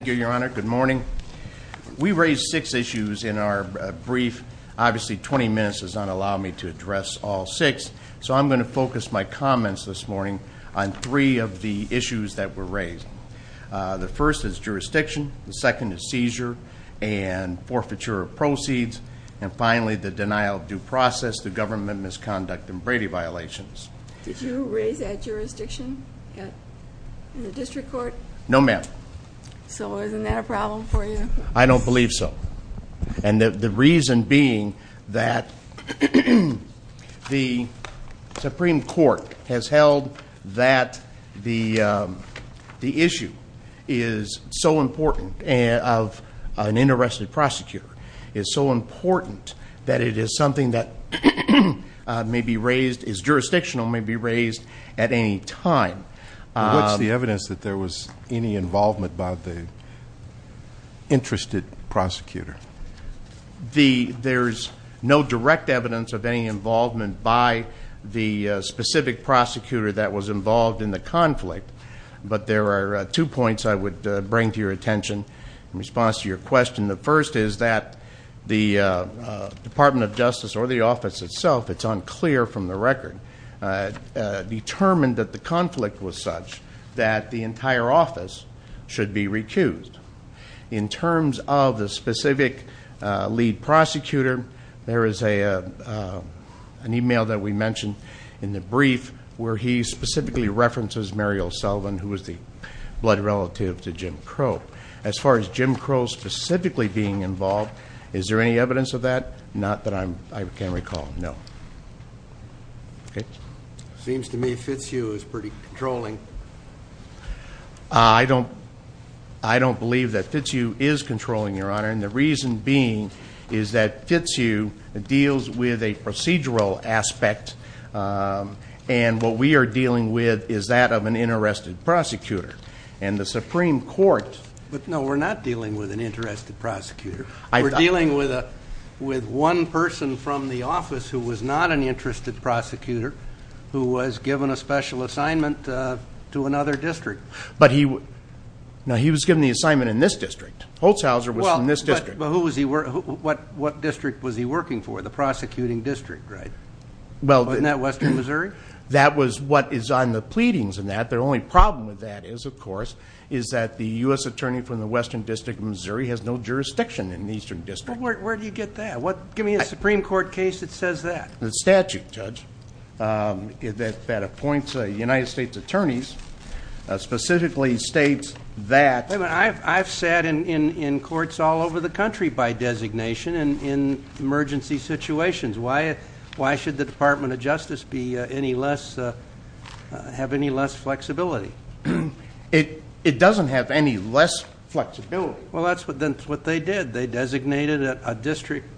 Thank you, Your Honor. Good morning. We raised six issues in our brief. Obviously, 20 minutes does not allow me to address all six, so I'm going to focus my comments this morning on three of the issues that were raised. The first is jurisdiction. The second is seizure and forfeiture of proceeds. And finally, the denial of due process, the government misconduct, and Brady violations. Did you raise that jurisdiction in the district court? No, ma'am. So isn't that a problem for you? I don't believe so. And the reason being that the Supreme Court has held that the issue is so important of an interested prosecutor, is so important that it is something that may be raised, is jurisdictional, may be raised at any time. What's the evidence that there was any involvement by the interested prosecutor? There's no direct evidence of any involvement by the specific prosecutor that was involved in the conflict, but there are two points I would bring to your attention in response to your question. The first is that the Department of Justice or the office itself, it's unclear from the record, determined that the conflict was such that the entire office should be recused. In terms of the specific lead prosecutor, there is an email that we mentioned in the brief where he specifically references Muriel Sullivan, who was the blood relative to Jim Crow. As far as Jim Crow specifically being involved, is there any evidence of that? Not that I can recall, no. Okay. Seems to me Fitzhugh is pretty controlling. I don't believe that Fitzhugh is controlling, Your Honor, and the reason being is that Fitzhugh deals with a procedural aspect, and what we are dealing with is that of an interested prosecutor. And the Supreme Court... But no, we're not dealing with an interested prosecutor. We're dealing with one person from the office who was not an interested prosecutor who was given a special assignment to another district. But he... No, he was given the assignment in this district. Holzhauser was from this district. But who was he... What district was he working for? The prosecuting district, right? Wasn't that Western Missouri? That was what is on the pleadings in that. The only problem with that is, of course, is that the US Attorney from the Western District of Missouri has no jurisdiction in the Eastern District. Well, where do you get that? Give me a Supreme Court case that says that. The statute, Judge, that appoints United States Attorneys specifically states that... I've sat in courts all over the country by designation in emergency situations. Why should the Department of Justice have any less flexibility? It doesn't have any less flexibility. Well, that's what they did. They designated a district...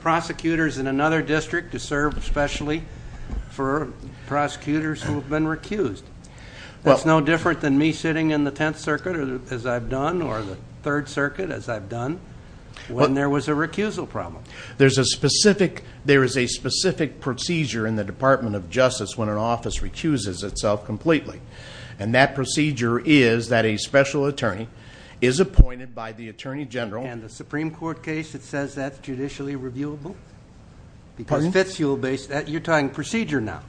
Prosecutors in another district to serve specially for prosecutors who have been recused. That's no different than me sitting in the Tenth Circuit, as I've done, or the Third Circuit, as I've done, when there was a recusal problem. There is a specific procedure in the Department of Justice when an office recuses itself completely. That procedure is that a special attorney is appointed by the Attorney General... And the Supreme Court case that says that's judicially reviewable? Pardon? Because Fitzhugh... You're talking procedure now.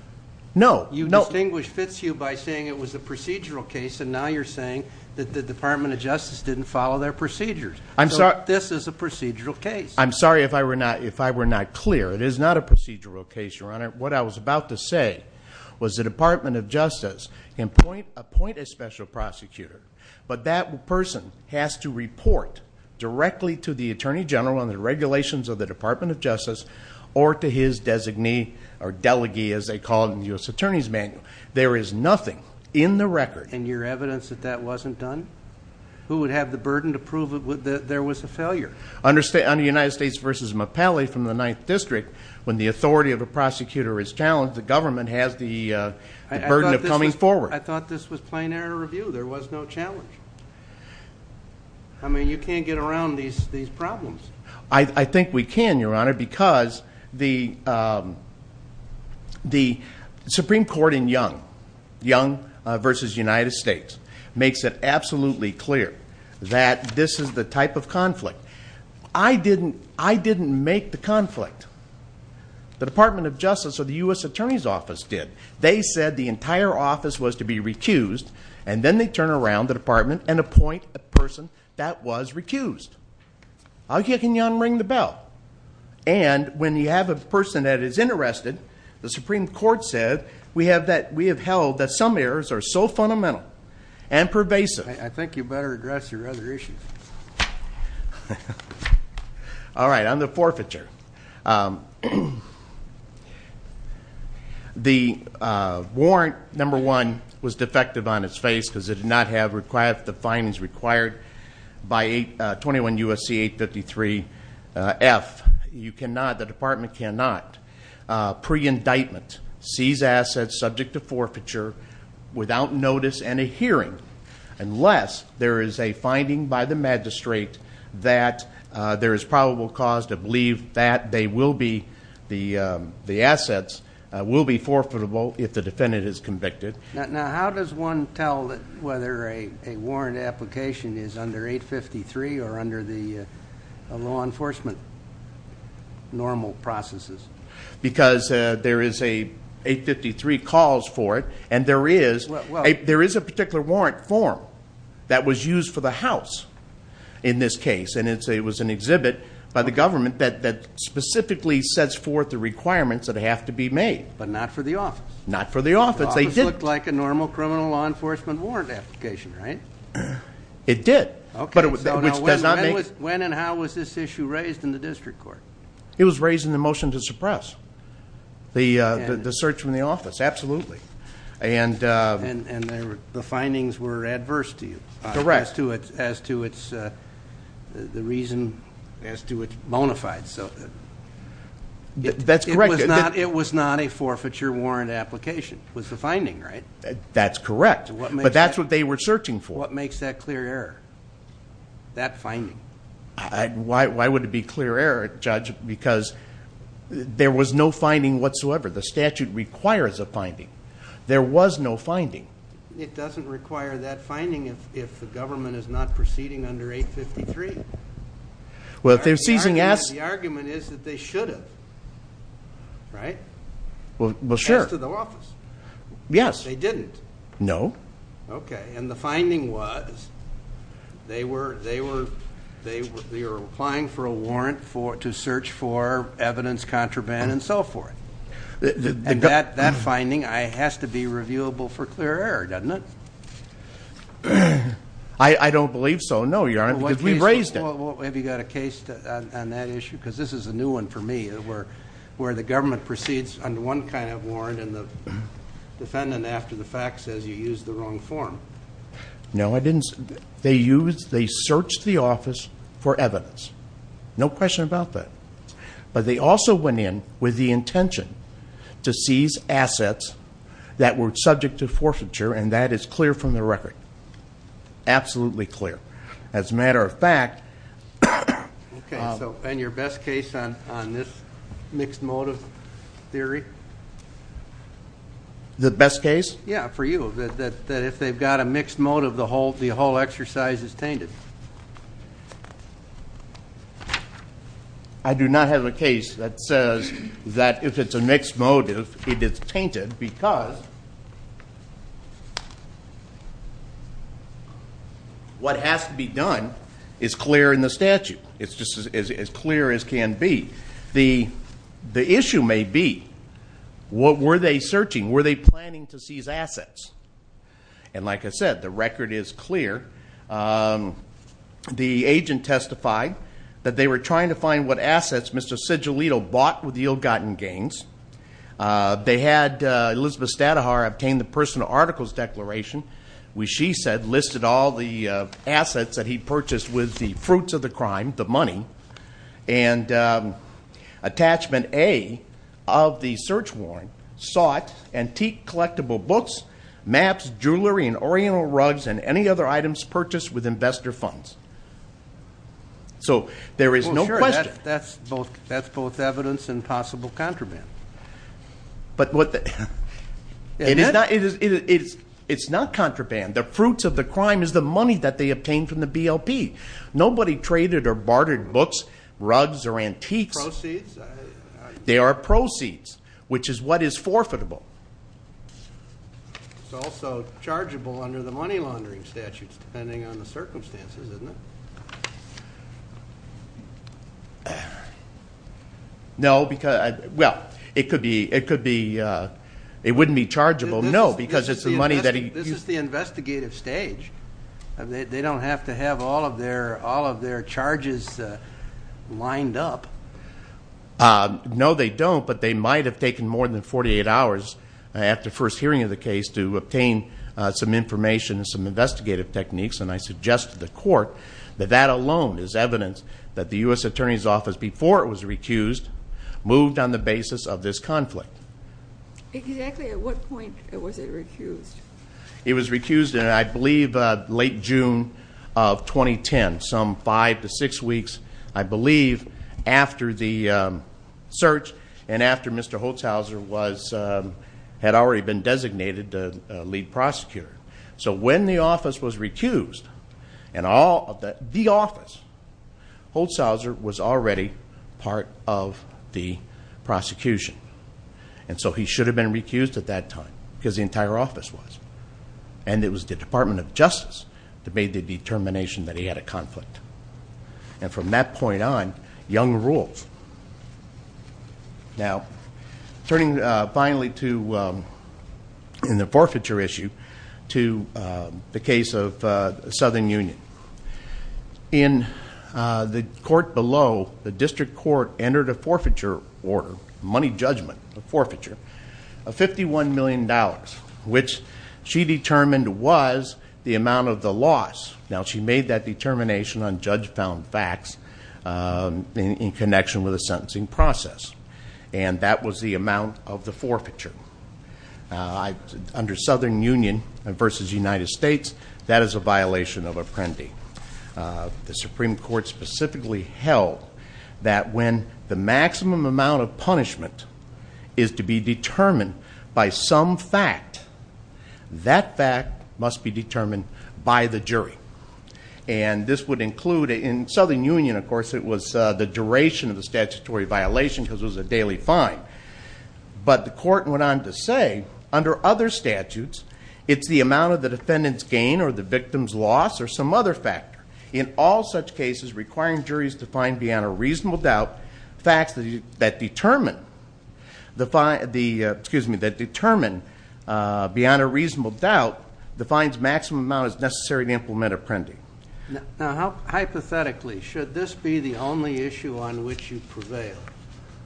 No. You distinguished Fitzhugh by saying it was a procedural case, and now you're saying that the Department of Justice didn't follow their procedures. This is a procedural case. I'm sorry if I were not clear. It is not a procedural case, Your Honor. What I was about to say was the Department of Justice can appoint a special prosecutor, but that person has to report directly to the Attorney General on the regulations of the Department of Justice or to his designee, or delegee, as they call it in the U.S. Attorney's Manual. There is nothing in the record... And your evidence that that wasn't done? Who would have the burden to prove that there was a failure? Under United States v. Mapelli from the Ninth District, when the authority of a prosecutor is challenged, the government has the burden of coming forward. I thought this was plain error review. There was no challenge. I mean, you can't get around these problems. I think we can, Your Honor, because the Supreme Court in Young v. United States makes it absolutely clear that this is the type of conflict. I didn't make the conflict. The Department of Justice or the U.S. Attorney's Office did. They said the entire office was to be recused, and then they turn around the Department and appoint a person that was recused. I'll give you, Your Honor, to ring the bell. And when you have a person that is interested, the Supreme Court said we have held that some errors are so fundamental and pervasive... I think you better address your other issues. All right. On the forfeiture, the warrant, number one, was defective on its face because it did not have the findings required by 21 U.S.C. 853 F. The Department cannot, pre-indictment, seize assets subject to forfeiture without notice and a hearing unless there is a finding by the magistrate that there is probable cause to believe that the assets will be forfeitable if the defendant is convicted. Now, how does one tell whether a warrant application is under 853 or under the law enforcement normal processes? Because there is a 853 calls for it, and there is a particular warrant form that was used for the House in this case, and it was an exhibit by the government that specifically sets forth the requirements that have to be made. But not for the office. Not for the office. They didn't. The office looked like a normal criminal law enforcement warrant application, right? It did. Okay. So now, when and how was this issue raised in the district court? It was raised in the motion to suppress the search from the office, absolutely. And the findings were adverse to you as to the reason, as to it's bona fide. That's correct. It was not a forfeiture warrant application was the finding, right? That's correct. But that's what they were searching for. What makes that clear error? That finding? Why would it be clear error, Judge? Because there was no finding whatsoever. The statute requires a finding. There was no finding. It doesn't require that finding if the government is not proceeding under 853. Well, if they're seizing assets- The argument is that they should have, right? Well, sure. As to the office. Yes. They didn't. No. Okay. And the finding was, they were applying for a warrant to search for evidence, contraband, and so forth. And that finding has to be reviewable for clear error, doesn't it? I don't believe so, no, Your Honor, because we've raised it. Well, have you got a case on that issue? Because this is a new one for me, where the government proceeds under one kind of warrant, and the defendant, after the fact, says you used the wrong form. No, I didn't. They used, they searched the office for evidence. No question about that. But they also went in with the intention to seize assets that were subject to forfeiture, and that is clear from the record, absolutely clear. As a matter of fact- Okay, so, and your best case on this mixed motive theory? The best case? Yeah, for you, that if they've got a mixed motive, the whole exercise is tainted. I do not have a case that says that if it's a mixed motive, it is tainted, because what has to be done is clear in the statute, it's just as clear as can be. The issue may be, what were they searching? Were they planning to seize assets? And like I said, the record is clear. The agent testified that they were trying to find what assets Mr. Sigillito bought with the ill-gotten gains. They had Elizabeth Stadahar obtain the personal articles declaration, which she said, listed all the assets that he purchased with the fruits of the crime, the money. And attachment A of the search warrant sought antique collectible books, maps, jewelry, and oriental rugs, and any other items purchased with investor funds. So, there is no question. That's both evidence and possible contraband. But what the- It's not contraband. The fruits of the crime is the money that they obtained from the BLP. Nobody traded or bartered books, rugs, or antiques. Proceeds? They are proceeds, which is what is forfeitable. It's also chargeable under the money laundering statutes, depending on the circumstances, isn't it? No, because, well, it wouldn't be chargeable, no, because it's the money that he- This is the investigative stage. They don't have to have all of their charges lined up. No, they don't, but they might have taken more than 48 hours after first hearing of the case to obtain some information and some investigative techniques, and I suggest to the court that that alone is evidence that the US Attorney's Office, before it was recused, moved on the basis of this conflict. Exactly at what point was it recused? It was recused in, I believe, late June of 2010, some five to six weeks, I believe, after the search and after Mr. Holzhauser had already been designated the lead prosecutor. So when the office was recused, the office, And so he should have been recused at that time, because the entire office was. And it was the Department of Justice that made the determination that he had a conflict. And from that point on, young rules. Now, turning finally to, in the forfeiture issue, to the case of Southern Union. In the court below, the district court entered a forfeiture order, money judgment, a forfeiture of $51 million, which she determined was the amount of the loss. Now, she made that determination on judge found facts in connection with the sentencing process. And that was the amount of the forfeiture. Under Southern Union versus United States, that is a violation of Apprendi. The Supreme Court specifically held that when the maximum amount of punishment is to be determined by some fact, that fact must be determined by the jury. And this would include, in Southern Union, of course, it was the duration of the statutory violation, because it was a daily fine. But the court went on to say, under other statutes, it's the amount of the defendant's gain or the victim's loss or some other factor, in all such cases requiring juries to find beyond a reasonable doubt. Facts that determine, excuse me, that determine beyond a reasonable doubt, the fine's maximum amount is necessary to implement Apprendi. Now, hypothetically, should this be the only issue on which you prevail?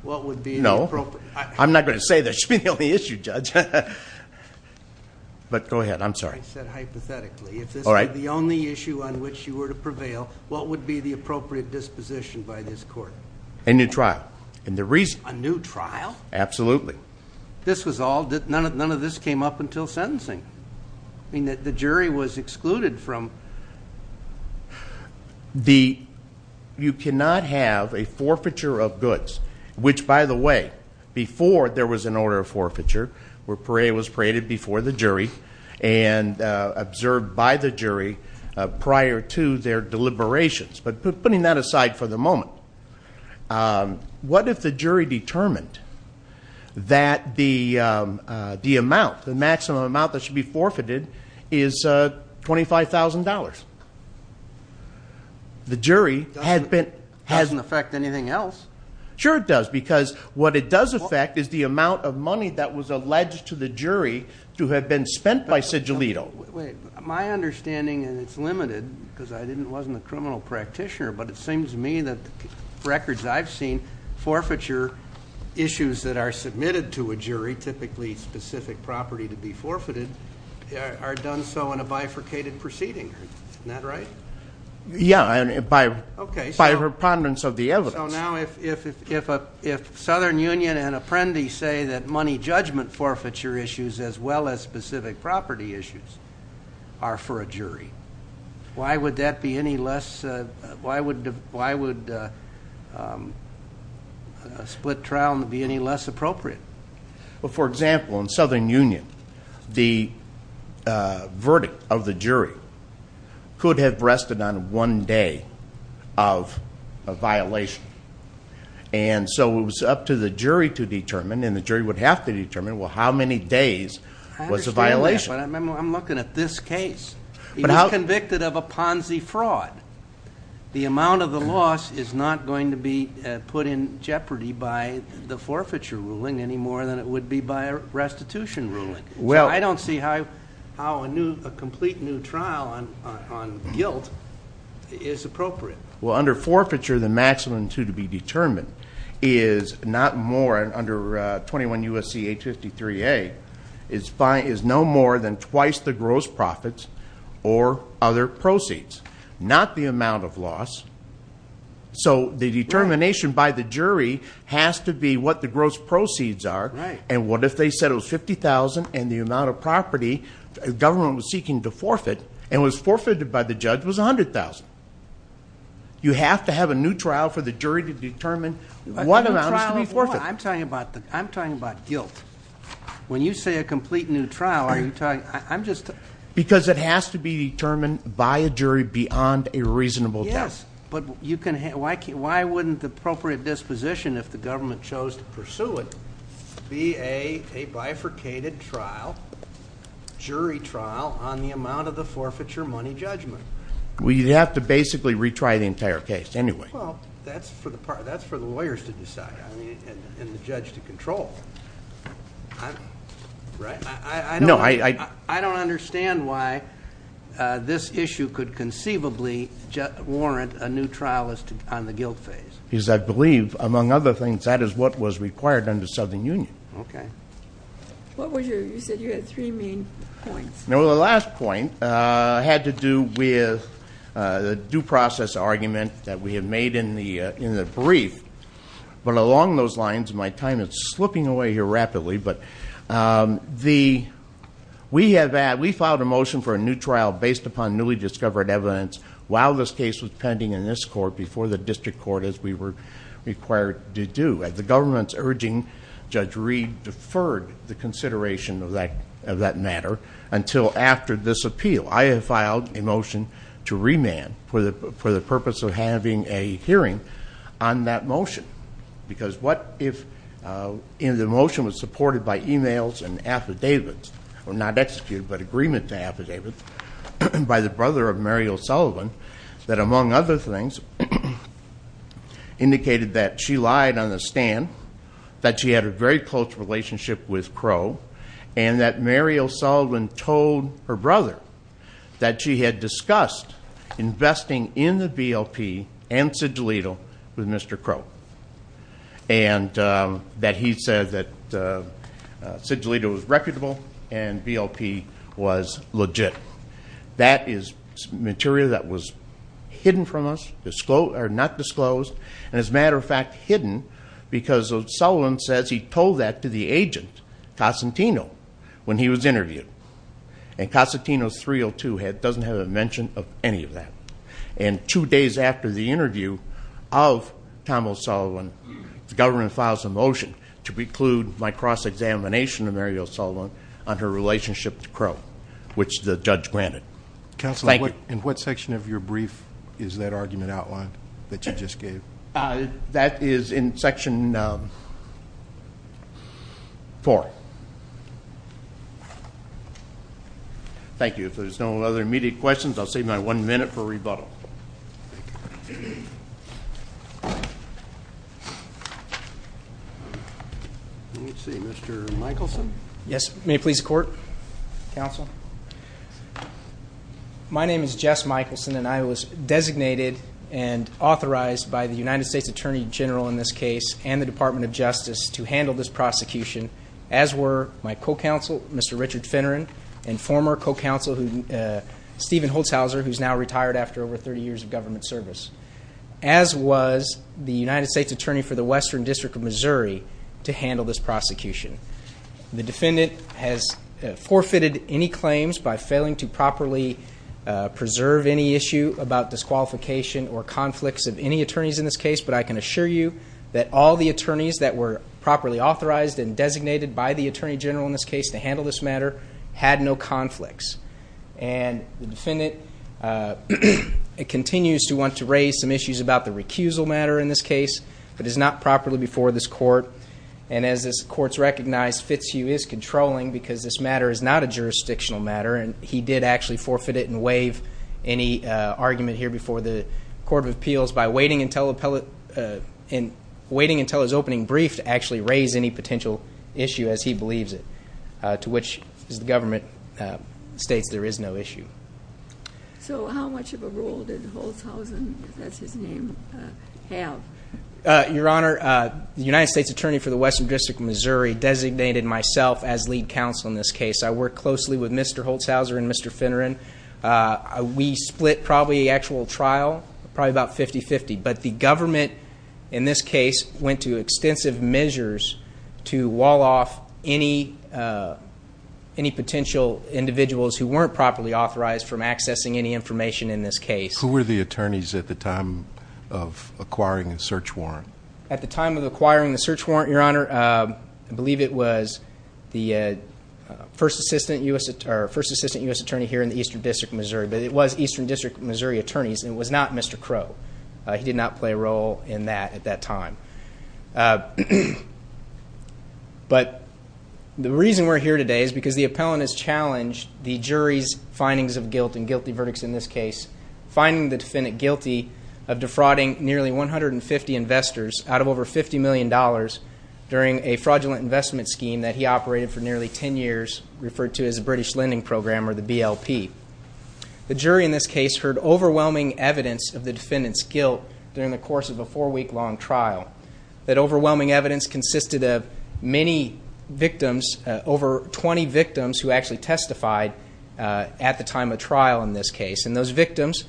What would be the appropriate- No, I'm not going to say this should be the only issue, Judge. But go ahead, I'm sorry. I said hypothetically, if this were the only issue on which you were to prevail, what would be the appropriate disposition by this court? A new trial. And the reason- A new trial? Absolutely. This was all, none of this came up until sentencing. I mean, the jury was excluded from- You cannot have a forfeiture of goods, which by the way, before there was an order of forfeiture, where parade was paraded before the jury, and observed by the jury prior to their deliberations. But putting that aside for the moment, what if the jury determined that the amount, the maximum amount that should be forfeited is $25,000? The jury had been- Doesn't affect anything else. Sure it does, because what it does affect is the amount of money that was alleged to the jury to have been spent by Sigilito. My understanding, and it's limited, because I wasn't a criminal practitioner, but it seems to me that records I've seen, forfeiture issues that are submitted to a jury, typically specific property to be forfeited, are done so in a bifurcated proceeding. Isn't that right? Yeah, by a preponderance of the evidence. So now if Southern Union and Apprendi say that money judgment forfeiture issues, as well as specific property issues, are for a jury, why would that be any less, why would a split trial be any less appropriate? For example, in Southern Union, the verdict of the jury could have rested on one day of a violation. And so it was up to the jury to determine, and the jury would have to determine, well, how many days was a violation? I understand that, but I'm looking at this case. He was convicted of a Ponzi fraud. The amount of the loss is not going to be put in jeopardy by the forfeiture ruling any more than it would be by a restitution ruling. So I don't see how a complete new trial on guilt is appropriate. Well, under forfeiture, the maximum to be determined is not more, under 21 U.S.C. 853A, is no more than twice the gross profits or other proceeds, not the amount of loss. So the determination by the jury has to be what the gross proceeds are. And what if they said it was $50,000 and the amount of property the government was seeking to forfeit and was forfeited by the judge was $100,000? You have to have a new trial for the jury to determine what amount is to be forfeited. I'm talking about guilt. When you say a complete new trial, are you talking, I'm just- Because it has to be determined by a jury beyond a reasonable guess. But you can, why wouldn't the appropriate disposition, if the government chose to pursue it, be a bifurcated trial, jury trial, on the amount of the forfeiture money judgment? We'd have to basically retry the entire case anyway. Well, that's for the lawyers to decide and the judge to control, right? No, I- I don't understand why this issue could conceivably warrant a new trial on the guilt phase. Because I believe, among other things, that is what was required under Southern Union. Okay. What was your, you said you had three main points. Well, the last point had to do with the due process argument that we had made in the brief. But along those lines, my time is slipping away here rapidly. But we filed a motion for a new trial based upon newly discovered evidence, while this case was pending in this court, before the district court, as we were required to do. At the government's urging, Judge Reed deferred the consideration of that matter until after this appeal. I have filed a motion to remand for the purpose of having a hearing on that motion. Because what if the motion was supported by emails and affidavits, or not executed, but agreement to affidavits, by the brother of Mary O'Sullivan, that among other things indicated that she lied on the stand, that she had a very close relationship with Crow, and that Mary O'Sullivan told her brother that she had discussed investing in the BLP and Sid Gelito with Mr. Crow. And that he said that Sid Gelito was reputable and BLP was legit. That is material that was hidden from us, or not disclosed. And as a matter of fact, hidden, because O'Sullivan says he told that to the agent, Cosentino, when he was interviewed. And Cosentino's 302 doesn't have a mention of any of that. And two days after the interview of Tom O'Sullivan, the government files a motion to preclude my cross-examination of Mary O'Sullivan on her relationship to Crow, which the judge granted. Thank you. In what section of your brief is that argument outlined, that you just gave? That is in section four. Thank you. If there's no other immediate questions, I'll save my one minute for rebuttal. Let's see, Mr. Michelson? Yes, may it please the court, counsel? My name is Jess Michelson, and I was designated and authorized by the United States Attorney General in this case, and the Department of Justice, to handle this prosecution, as were my co-counsel, Mr. Richard Finneran, and former co-counsel, Stephen Holzhauser, who's now retired after over 30 years of government service. As was the United States Attorney for the Western District of Missouri, to handle this prosecution. The defendant has forfeited any claims by failing to properly preserve any issue about disqualification or conflicts of any attorneys in this case, but I can assure you that all the attorneys that were properly authorized and designated by the Attorney General in this case to handle this matter had no conflicts. And the defendant continues to want to raise some issues about the recusal matter in this case, but is not properly before this court. And as this court's recognized, Fitzhugh is controlling, because this matter is not a jurisdictional matter, and he did actually forfeit it and waive any argument here before the Court of Appeals by waiting until his opening brief to actually raise any potential issue, as he believes it, to which the government states there is no issue. So how much of a role did Holzhausen, if that's his name, have? Your Honor, the United States Attorney for the Western District of Missouri designated myself as lead counsel in this case. I worked closely with Mr. Holzhauser and Mr. Finneran. We split probably the actual trial, probably about 50-50, but the government, in this case, went to extensive measures to wall off any potential individuals who weren't properly authorized from accessing any information in this case. Who were the attorneys at the time of acquiring the search warrant? At the time of acquiring the search warrant, Your Honor, I believe it was the first assistant U.S. attorney here in the Eastern District of Missouri. But it was Eastern District of Missouri attorneys, and it was not Mr. Crow. He did not play a role in that at that time. But the reason we're here today is because the appellant has challenged the jury's findings of guilt and guilty verdicts in this case, finding the defendant guilty of defrauding nearly 150 investors out of over $50 million during a fraudulent investment scheme that he operated for nearly 10 years, referred to as the British Lending Program, or the BLP. The jury in this case heard overwhelming evidence of the defendant's guilt during the course of a four-week-long trial. That overwhelming evidence consisted of many victims, over 20 victims who actually testified at the time of trial in this case. And those victims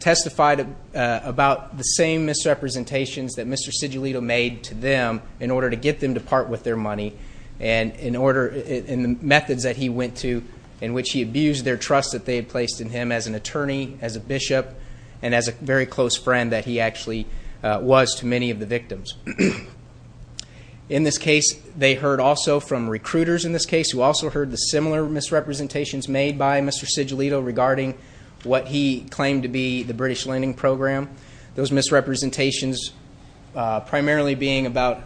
testified about the same misrepresentations that Mr. Sigillito made to them in order to get them to part with their money. And in order, in the methods that he went to, in which he abused their trust that they had placed in him as an attorney, as a bishop, and as a very close friend that he actually was to many of the victims. In this case, they heard also from recruiters in this case who also heard the similar misrepresentations made by Mr. Sigillito regarding what he claimed to be the British Lending Program. Those misrepresentations primarily being about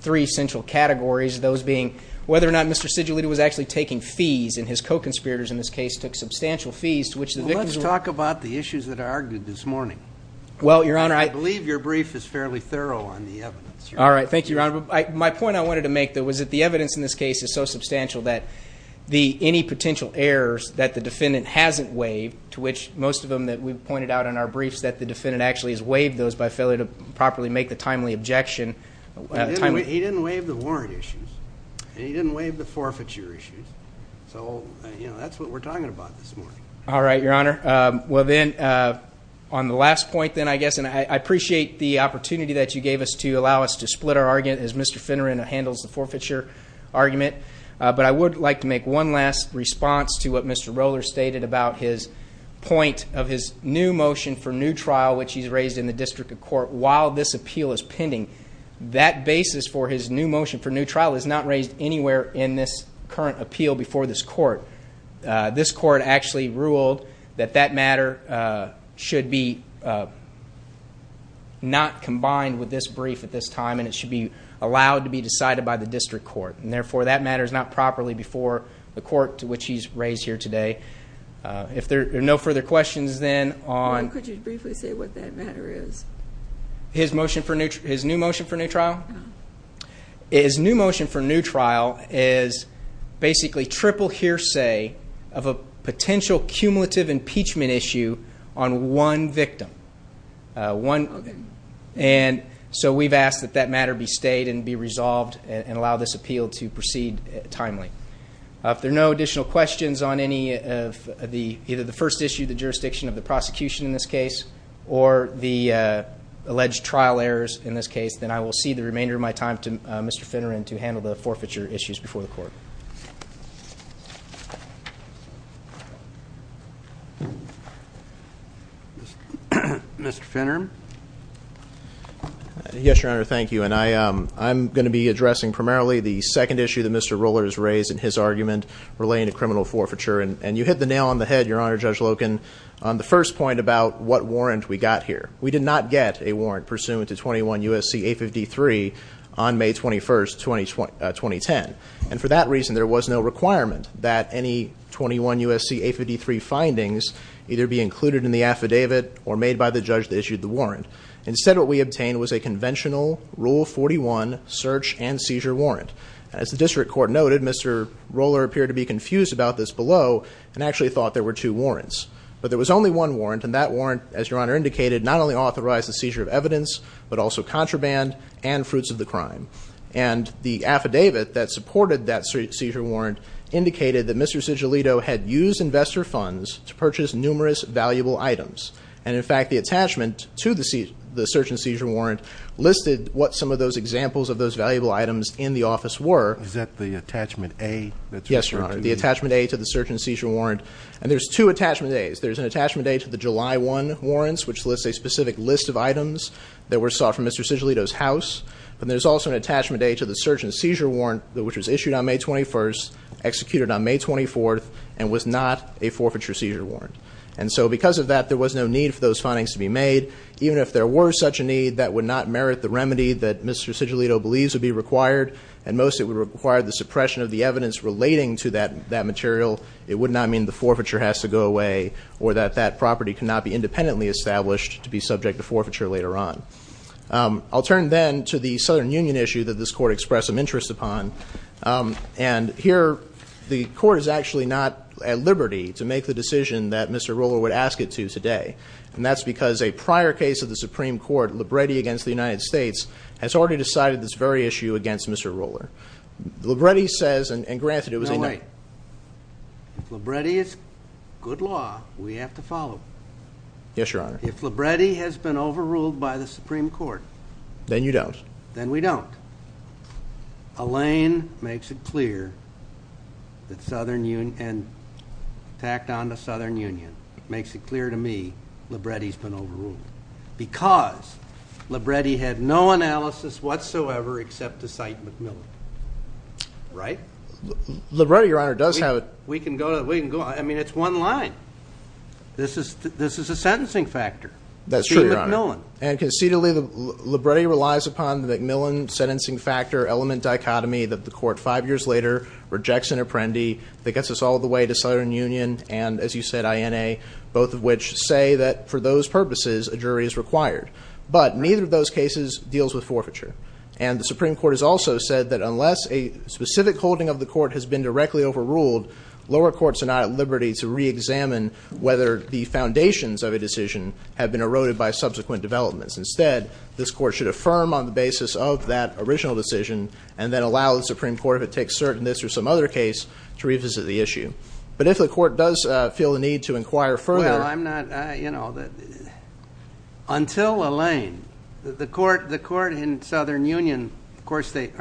three central categories, those being whether or not Mr. Sigillito was actually taking fees, and his co-conspirators in this case took substantial fees to which the victims were- Let's talk about the issues that are argued this morning. Well, Your Honor, I- I believe your brief is fairly thorough on the evidence. All right, thank you, Your Honor. My point I wanted to make, though, was that the evidence in this case is so substantial that any potential errors that the defendant hasn't waived, to which most of them that we've pointed out in our briefs that the defendant actually has waived those by failure to properly make the timely objection- He didn't waive the warrant issues, and he didn't waive the forfeiture issues. So, you know, that's what we're talking about this morning. All right, Your Honor. Well, then, on the last point, then, I guess, and I appreciate the opportunity that you gave us to allow us to split our argument as Mr. Finneran handles the forfeiture argument, but I would like to make one last response to what Mr. Roller stated about his point of his new motion for new trial, which he's raised in the District of Court while this appeal is pending. That basis for his new motion for new trial is not raised anywhere in this current appeal before this court. This court actually ruled that that matter should be not combined with this brief at this time, and it should be allowed to be decided by the district court. And, therefore, that matter is not properly before the court to which he's raised here today. If there are no further questions, then, on- Why don't you briefly say what that matter is? His motion for new, his new motion for new trial? No. His new motion for new trial is basically triple hearsay of a potential cumulative impeachment issue on one victim. And so we've asked that that matter be stayed and be resolved and allow this appeal to proceed timely. If there are no additional questions on any of the, either the first issue, the jurisdiction of the prosecution in this case, or the alleged trial errors in this case, then I will cede the remainder of my time to Mr. Finneran to handle the forfeiture issues before the court. Mr. Finneran? Yes, Your Honor, thank you. And I'm going to be addressing primarily the second issue that Mr. Roller has raised in his argument relating to criminal forfeiture. And you hit the nail on the head, Your Honor, Judge Loken, on the first point about what warrant we got here. We did not get a warrant pursuant to 21 U.S.C. 853 on May 21st, 2010. And for that reason, there was no requirement that any 21 U.S.C. 853 findings either be included in the affidavit or made by the judge that issued the warrant. Instead, what we obtained was a conventional Rule 41 search and seizure warrant. As the district court noted, Mr. Roller appeared to be confused about this below and actually thought there were two warrants. But there was only one warrant, and that warrant, as Your Honor indicated, not only authorized the seizure of evidence, but also contraband and fruits of the crime. And the affidavit that supported that seizure warrant indicated that Mr. Sigillito had used investor funds to purchase numerous valuable items. And in fact, the attachment to the search and seizure warrant listed what some of those examples of those valuable items in the office were. Is that the attachment A that's referred to? Yes, Your Honor, the attachment A to the search and seizure warrant. And there's two attachment A's. There's an attachment A to the July 1 warrants, which lists a specific list of items that were sought from Mr. Sigillito's house. But there's also an attachment A to the search and seizure warrant, which was issued on May 21st, executed on May 24th, and was not a forfeiture seizure warrant. And so because of that, there was no need for those findings to be made. Even if there were such a need, that would not merit the remedy that Mr. Sigillito believes would be required. And most it would require the suppression of the evidence relating to that material. It would not mean the forfeiture has to go away, or that that property cannot be independently established to be subject to forfeiture later on. I'll turn then to the Southern Union issue that this court expressed some interest upon. And here, the court is actually not at liberty to make the decision that Mr. Roller would ask it to today. And that's because a prior case of the Supreme Court, Libretti against the United States, has already decided this very issue against Mr. Roller. Libretti says, and granted it was a- No, wait. If Libretti is good law, we have to follow. Yes, Your Honor. If Libretti has been overruled by the Supreme Court. Then you don't. Then we don't. Elaine makes it clear that Southern Union, and tacked on to Southern Union, makes it clear to me, Libretti's been overruled. Because Libretti had no analysis whatsoever except to cite MacMillan, right? Libretti, Your Honor, does have a- We can go, I mean, it's one line. That's true, Your Honor. And concededly, Libretti relies upon the MacMillan sentencing factor element dichotomy that the court five years later rejects an apprendee. That gets us all the way to Southern Union, and as you said, INA, both of which say that for those purposes, a jury is required. But neither of those cases deals with forfeiture. And the Supreme Court has also said that unless a specific holding of the court has been directly overruled, lower courts are not at liberty to re-examine whether the foundations of a decision have been eroded by subsequent developments. Instead, this court should affirm on the basis of that original decision, and then allow the Supreme Court, if it takes cert in this or some other case, to revisit the issue. But if the court does feel the need to inquire further- Well, I'm not, until Elaine, the court in Southern Union, of course, they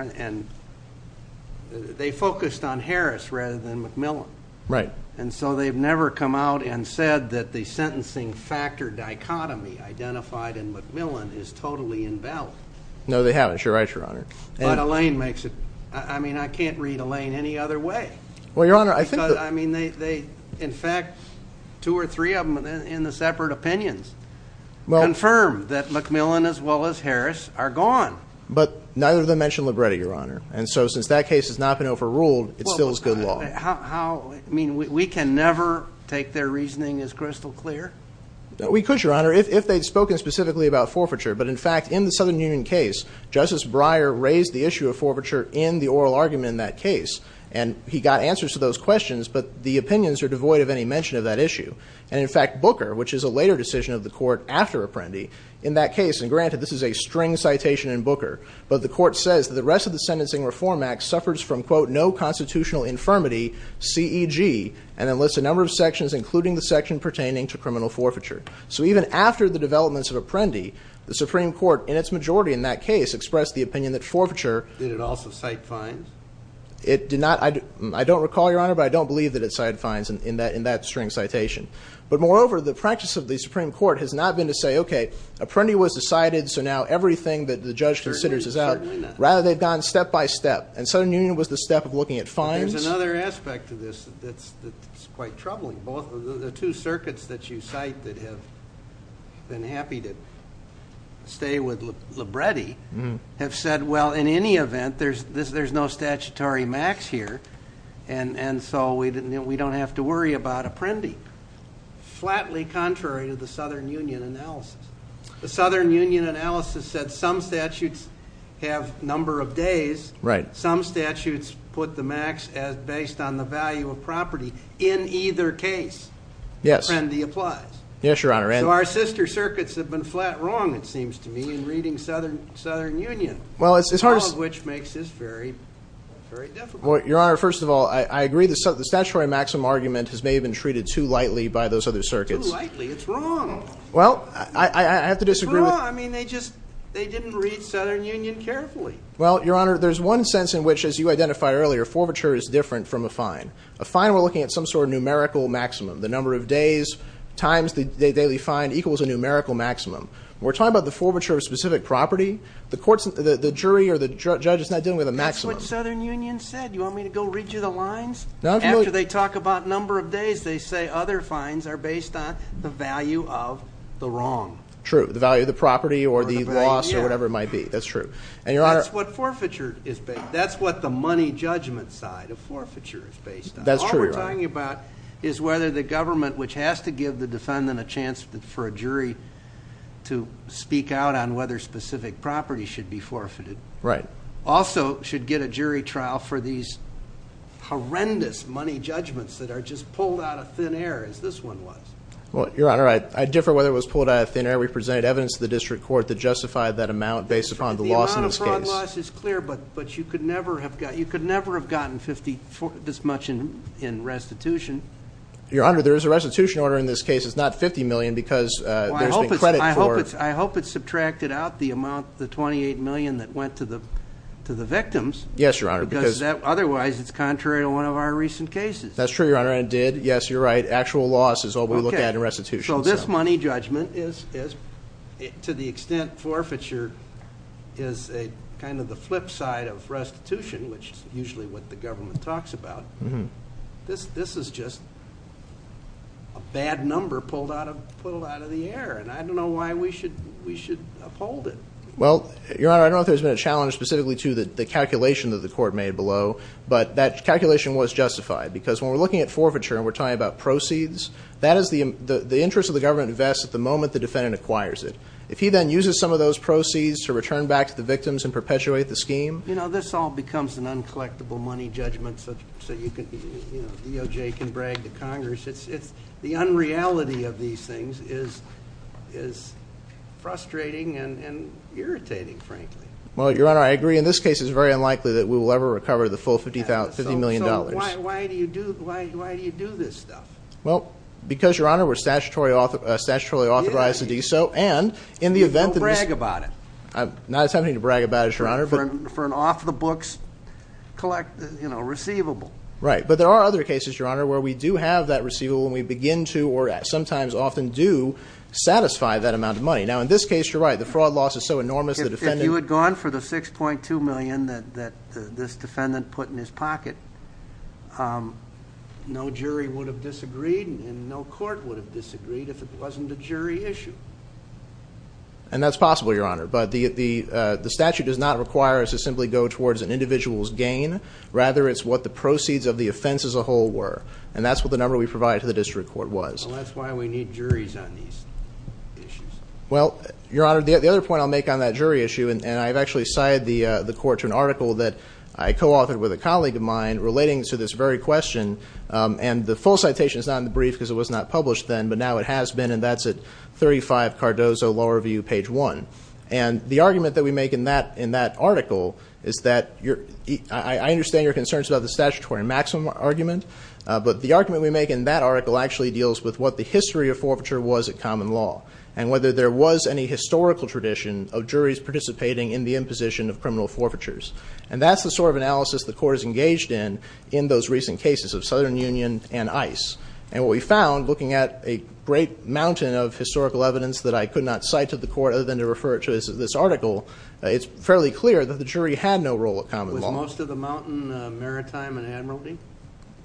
focused on Harris rather than MacMillan. Right. And so they've never come out and said that the sentencing factor dichotomy identified in MacMillan is totally invalid. No, they haven't. You're right, Your Honor. But Elaine makes it, I mean, I can't read Elaine any other way. Well, Your Honor, I think- Because, I mean, in fact, two or three of them in the separate opinions confirm that MacMillan as well as Harris are gone. But neither of them mentioned Libretti, Your Honor. And so since that case has not been overruled, it still is good law. How, I mean, we can never take their reasoning as crystal clear? We could, Your Honor, if they'd spoken specifically about forfeiture. But in fact, in the Southern Union case, Justice Breyer raised the issue of forfeiture in the oral argument in that case. And he got answers to those questions, but the opinions are devoid of any mention of that issue. And in fact, Booker, which is a later decision of the court after Apprendi, in that case, and Booker, but the court says that the rest of the Sentencing Reform Act suffers from, quote, no constitutional infirmity, CEG, and enlists a number of sections, including the section pertaining to criminal forfeiture. So even after the developments of Apprendi, the Supreme Court, in its majority in that case, expressed the opinion that forfeiture- Did it also cite fines? It did not, I don't recall, Your Honor, but I don't believe that it cited fines in that string citation. But moreover, the practice of the Supreme Court has not been to say, okay, Apprendi was decided, so now everything that the judge considers is out. Rather, they've gone step by step. And Southern Union was the step of looking at fines. There's another aspect to this that's quite troubling. Both of the two circuits that you cite that have been happy to stay with Libretti have said, well, in any event, there's no statutory max here. And so we don't have to worry about Apprendi. Flatly contrary to the Southern Union analysis. The Southern Union analysis said some statutes have number of days. Right. Some statutes put the max as based on the value of property in either case. Yes. Apprendi applies. Yes, Your Honor, and- So our sister circuits have been flat wrong, it seems to me, in reading Southern Union. Well, it's hard to- All of which makes this very, very difficult. Well, Your Honor, first of all, I agree the statutory maximum argument has maybe been treated too lightly by those other circuits. Too lightly? It's wrong. Well, I have to disagree with- It's wrong. I mean, they just, they didn't read Southern Union carefully. Well, Your Honor, there's one sense in which, as you identified earlier, forfeiture is different from a fine. A fine, we're looking at some sort of numerical maximum. The number of days times the daily fine equals a numerical maximum. We're talking about the forfeiture of specific property. The jury or the judge is not dealing with a maximum. That's what Southern Union said. You want me to go read you the lines? After they talk about number of days, they say other fines are based on the value of the wrong. True, the value of the property or the loss or whatever it might be. That's true. And Your Honor- That's what forfeiture is based, that's what the money judgment side of forfeiture is based on. That's true, Your Honor. All we're talking about is whether the government, which has to give the defendant a chance for a jury to speak out on whether specific property should be forfeited. Right. Also should get a jury trial for these horrendous money judgments that are just pulled out of thin air, as this one was. Well, Your Honor, I differ whether it was pulled out of thin air. We presented evidence to the district court that justified that amount based upon the loss in this case. The amount of fraud loss is clear, but you could never have gotten this much in restitution. Your Honor, there is a restitution order in this case. It's not 50 million because there's been credit for- To the victims. Yes, Your Honor, because- Otherwise, it's contrary to one of our recent cases. That's true, Your Honor, it did. Yes, you're right. Actual loss is all we look at in restitution. So this money judgment is, to the extent forfeiture is kind of the flip side of restitution, which is usually what the government talks about, this is just a bad number pulled out of the air, and I don't know why we should uphold it. Well, Your Honor, I don't know if there's been a challenge specifically to the calculation that the court made below, but that calculation was justified, because when we're looking at forfeiture and we're talking about proceeds, that is the interest of the government invests at the moment the defendant acquires it. If he then uses some of those proceeds to return back to the victims and perpetuate the scheme- You know, this all becomes an uncollectible money judgment, so DOJ can brag to Congress. The unreality of these things is frustrating and irritating, frankly. Well, Your Honor, I agree. In this case, it's very unlikely that we will ever recover the full $50 million. So why do you do this stuff? Well, because, Your Honor, we're statutorily authorized to do so, and in the event that- You don't brag about it. Not attempting to brag about it, Your Honor, but- For an off-the-books receivable. Right, but there are other cases, Your Honor, where we do have that receivable, and we begin to, or sometimes often do, satisfy that amount of money. Now, in this case, you're right. The fraud loss is so enormous, the defendant- If you had gone for the $6.2 million that this defendant put in his pocket, no jury would have disagreed, and no court would have disagreed if it wasn't a jury issue. And that's possible, Your Honor, but the statute does not require us to simply go towards an individual's gain. Rather, it's what the proceeds of the offense as a whole were, and that's what the number we provided to the district court was. Well, that's why we need juries on these issues. Well, Your Honor, the other point I'll make on that jury issue, and I've actually cited the court to an article that I co-authored with a colleague of mine relating to this very question. And the full citation is not in the brief because it was not published then, but now it has been, and that's at 35 Cardozo Law Review, page one. And the argument that we make in that article is that, I understand your concerns about the statutory maximum argument, but the argument we make in that article actually deals with what the history of forfeiture was at common law. And whether there was any historical tradition of juries participating in the imposition of criminal forfeitures. And that's the sort of analysis the court is engaged in, in those recent cases of Southern Union and ICE. And what we found, looking at a great mountain of historical evidence that I could not cite to the court other than to refer it to this article. It's fairly clear that the jury had no role at common law. Was most of the mountain maritime and admiralty?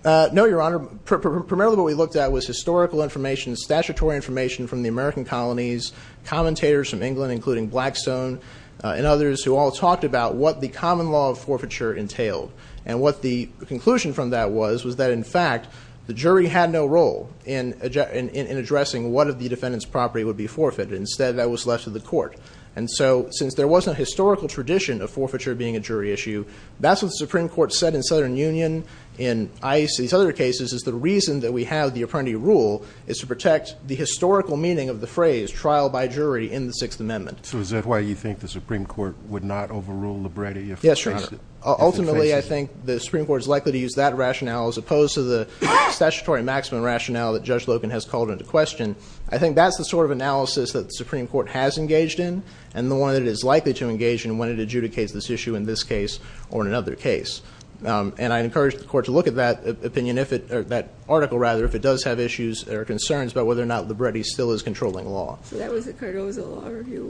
No, Your Honor. Primarily what we looked at was historical information, statutory information from the American colonies, commentators from England including Blackstone and others who all talked about what the common law of forfeiture entailed. And what the conclusion from that was, was that in fact, the jury had no role in addressing what of the defendant's property would be forfeited. Instead, that was left to the court. And so, since there wasn't a historical tradition of forfeiture being a jury issue, that's what the Supreme Court said in Southern Union, in ICE, these other cases, is the reason that we have the Apprenti Rule is to protect the historical meaning of the phrase trial by jury in the Sixth Amendment. So is that why you think the Supreme Court would not overrule the Brady? Yes, Your Honor. Ultimately, I think the Supreme Court is likely to use that rationale as opposed to the statutory maximum rationale that Judge Logan has called into question. I think that's the sort of analysis that the Supreme Court has engaged in and the one that it is likely to engage in when it adjudicates this issue in this case or in another case. And I encourage the court to look at that opinion, or that article rather, if it does have issues or concerns about whether or not the Brady still is controlling law. So that was the Cardozo Law Review,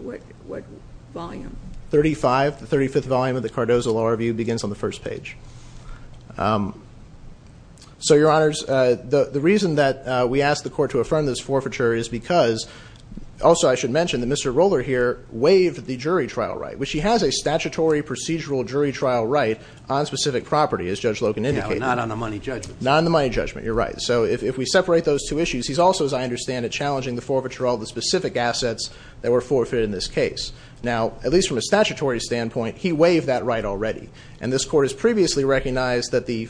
what volume? 35, the 35th volume of the Cardozo Law Review begins on the first page. So, Your Honors, the reason that we ask the court to affirm this forfeiture is because, also I should mention that Mr. Roller here waived the jury trial right, which he has a statutory procedural jury trial right on specific property, as Judge Logan indicated. Yeah, but not on the money judgment. Not on the money judgment, you're right. So if we separate those two issues, he's also, as I understand it, challenging the forfeiture of all the specific assets that were forfeited in this case. Now, at least from a statutory standpoint, he waived that right already. And this court has previously recognized that the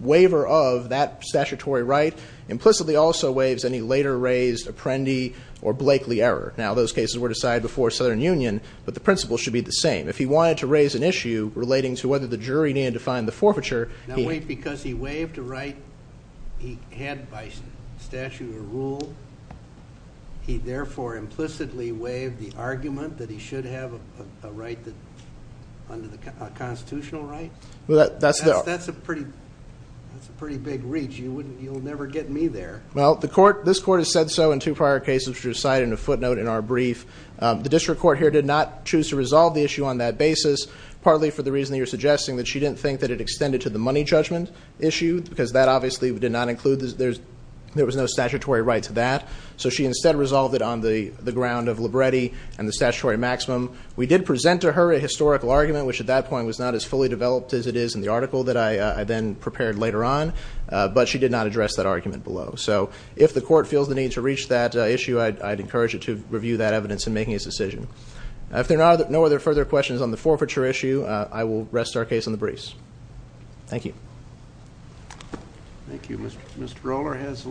waiver of that statutory right implicitly also waives any later raised Apprendi or Blakely error. Now, those cases were decided before Southern Union, but the principle should be the same. If he wanted to raise an issue relating to whether the jury needed to find the forfeiture, he- Now wait, because he waived a right he had by statute or rule. He therefore implicitly waived the argument that he should have a right under the constitutional right? That's a pretty big reach. You'll never get me there. Well, this court has said so in two prior cases, which are cited in a footnote in our brief. The district court here did not choose to resolve the issue on that basis, partly for the reason that you're suggesting, that she didn't think that it extended to the money judgment issue. Because that obviously did not include, there was no statutory right to that. So she instead resolved it on the ground of Libretti and the statutory maximum. We did present to her a historical argument, which at that point was not as fully developed as it is in the article that I then prepared later on. But she did not address that argument below. So if the court feels the need to reach that issue, I'd encourage it to review that evidence in making its decision. If there are no other further questions on the forfeiture issue, I will rest our case on the briefs. Thank you. Thank you. Mr. Roller has-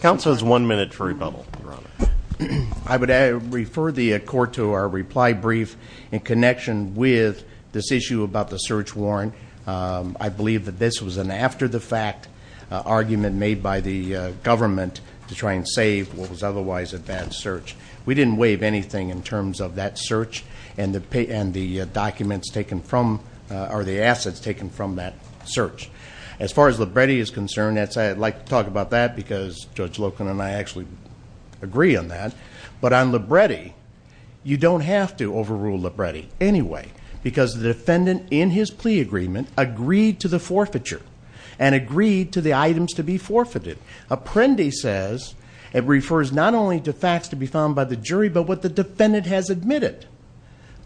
Council has one minute for rebuttal. I would refer the court to our reply brief in connection with this issue about the search warrant. I believe that this was an after the fact argument made by the government to try and save what was otherwise a bad search. We didn't waive anything in terms of that search and the assets taken from that search. As far as Libretti is concerned, I'd like to talk about that because Judge Loken and I actually agree on that. But on Libretti, you don't have to overrule Libretti anyway, because the defendant in his plea agreement agreed to the forfeiture and agreed to the items to be forfeited. Apprendi says it refers not only to facts to be found by the jury, but what the defendant has admitted.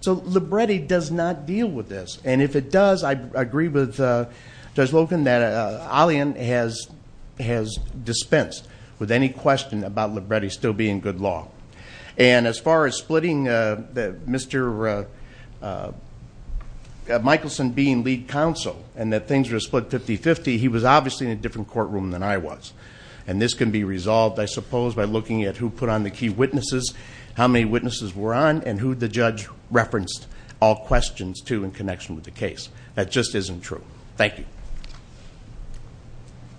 So Libretti does not deal with this. And if it does, I agree with Judge Loken that Allian has dispensed with any question about Libretti still being good law. And as far as splitting Mr. Michelson being lead counsel, and that things were split 50-50. He was obviously in a different courtroom than I was. And this can be resolved, I suppose, by looking at who put on the key witnesses, how many witnesses were on, and who the judge referenced all questions to in connection with the case. That just isn't true. Thank you.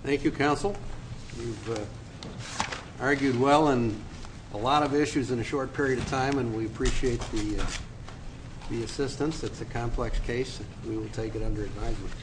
Thank you, counsel. You've argued well on a lot of issues in a short period of time, and we appreciate the assistance. It's a complex case, and we will take it under advisement.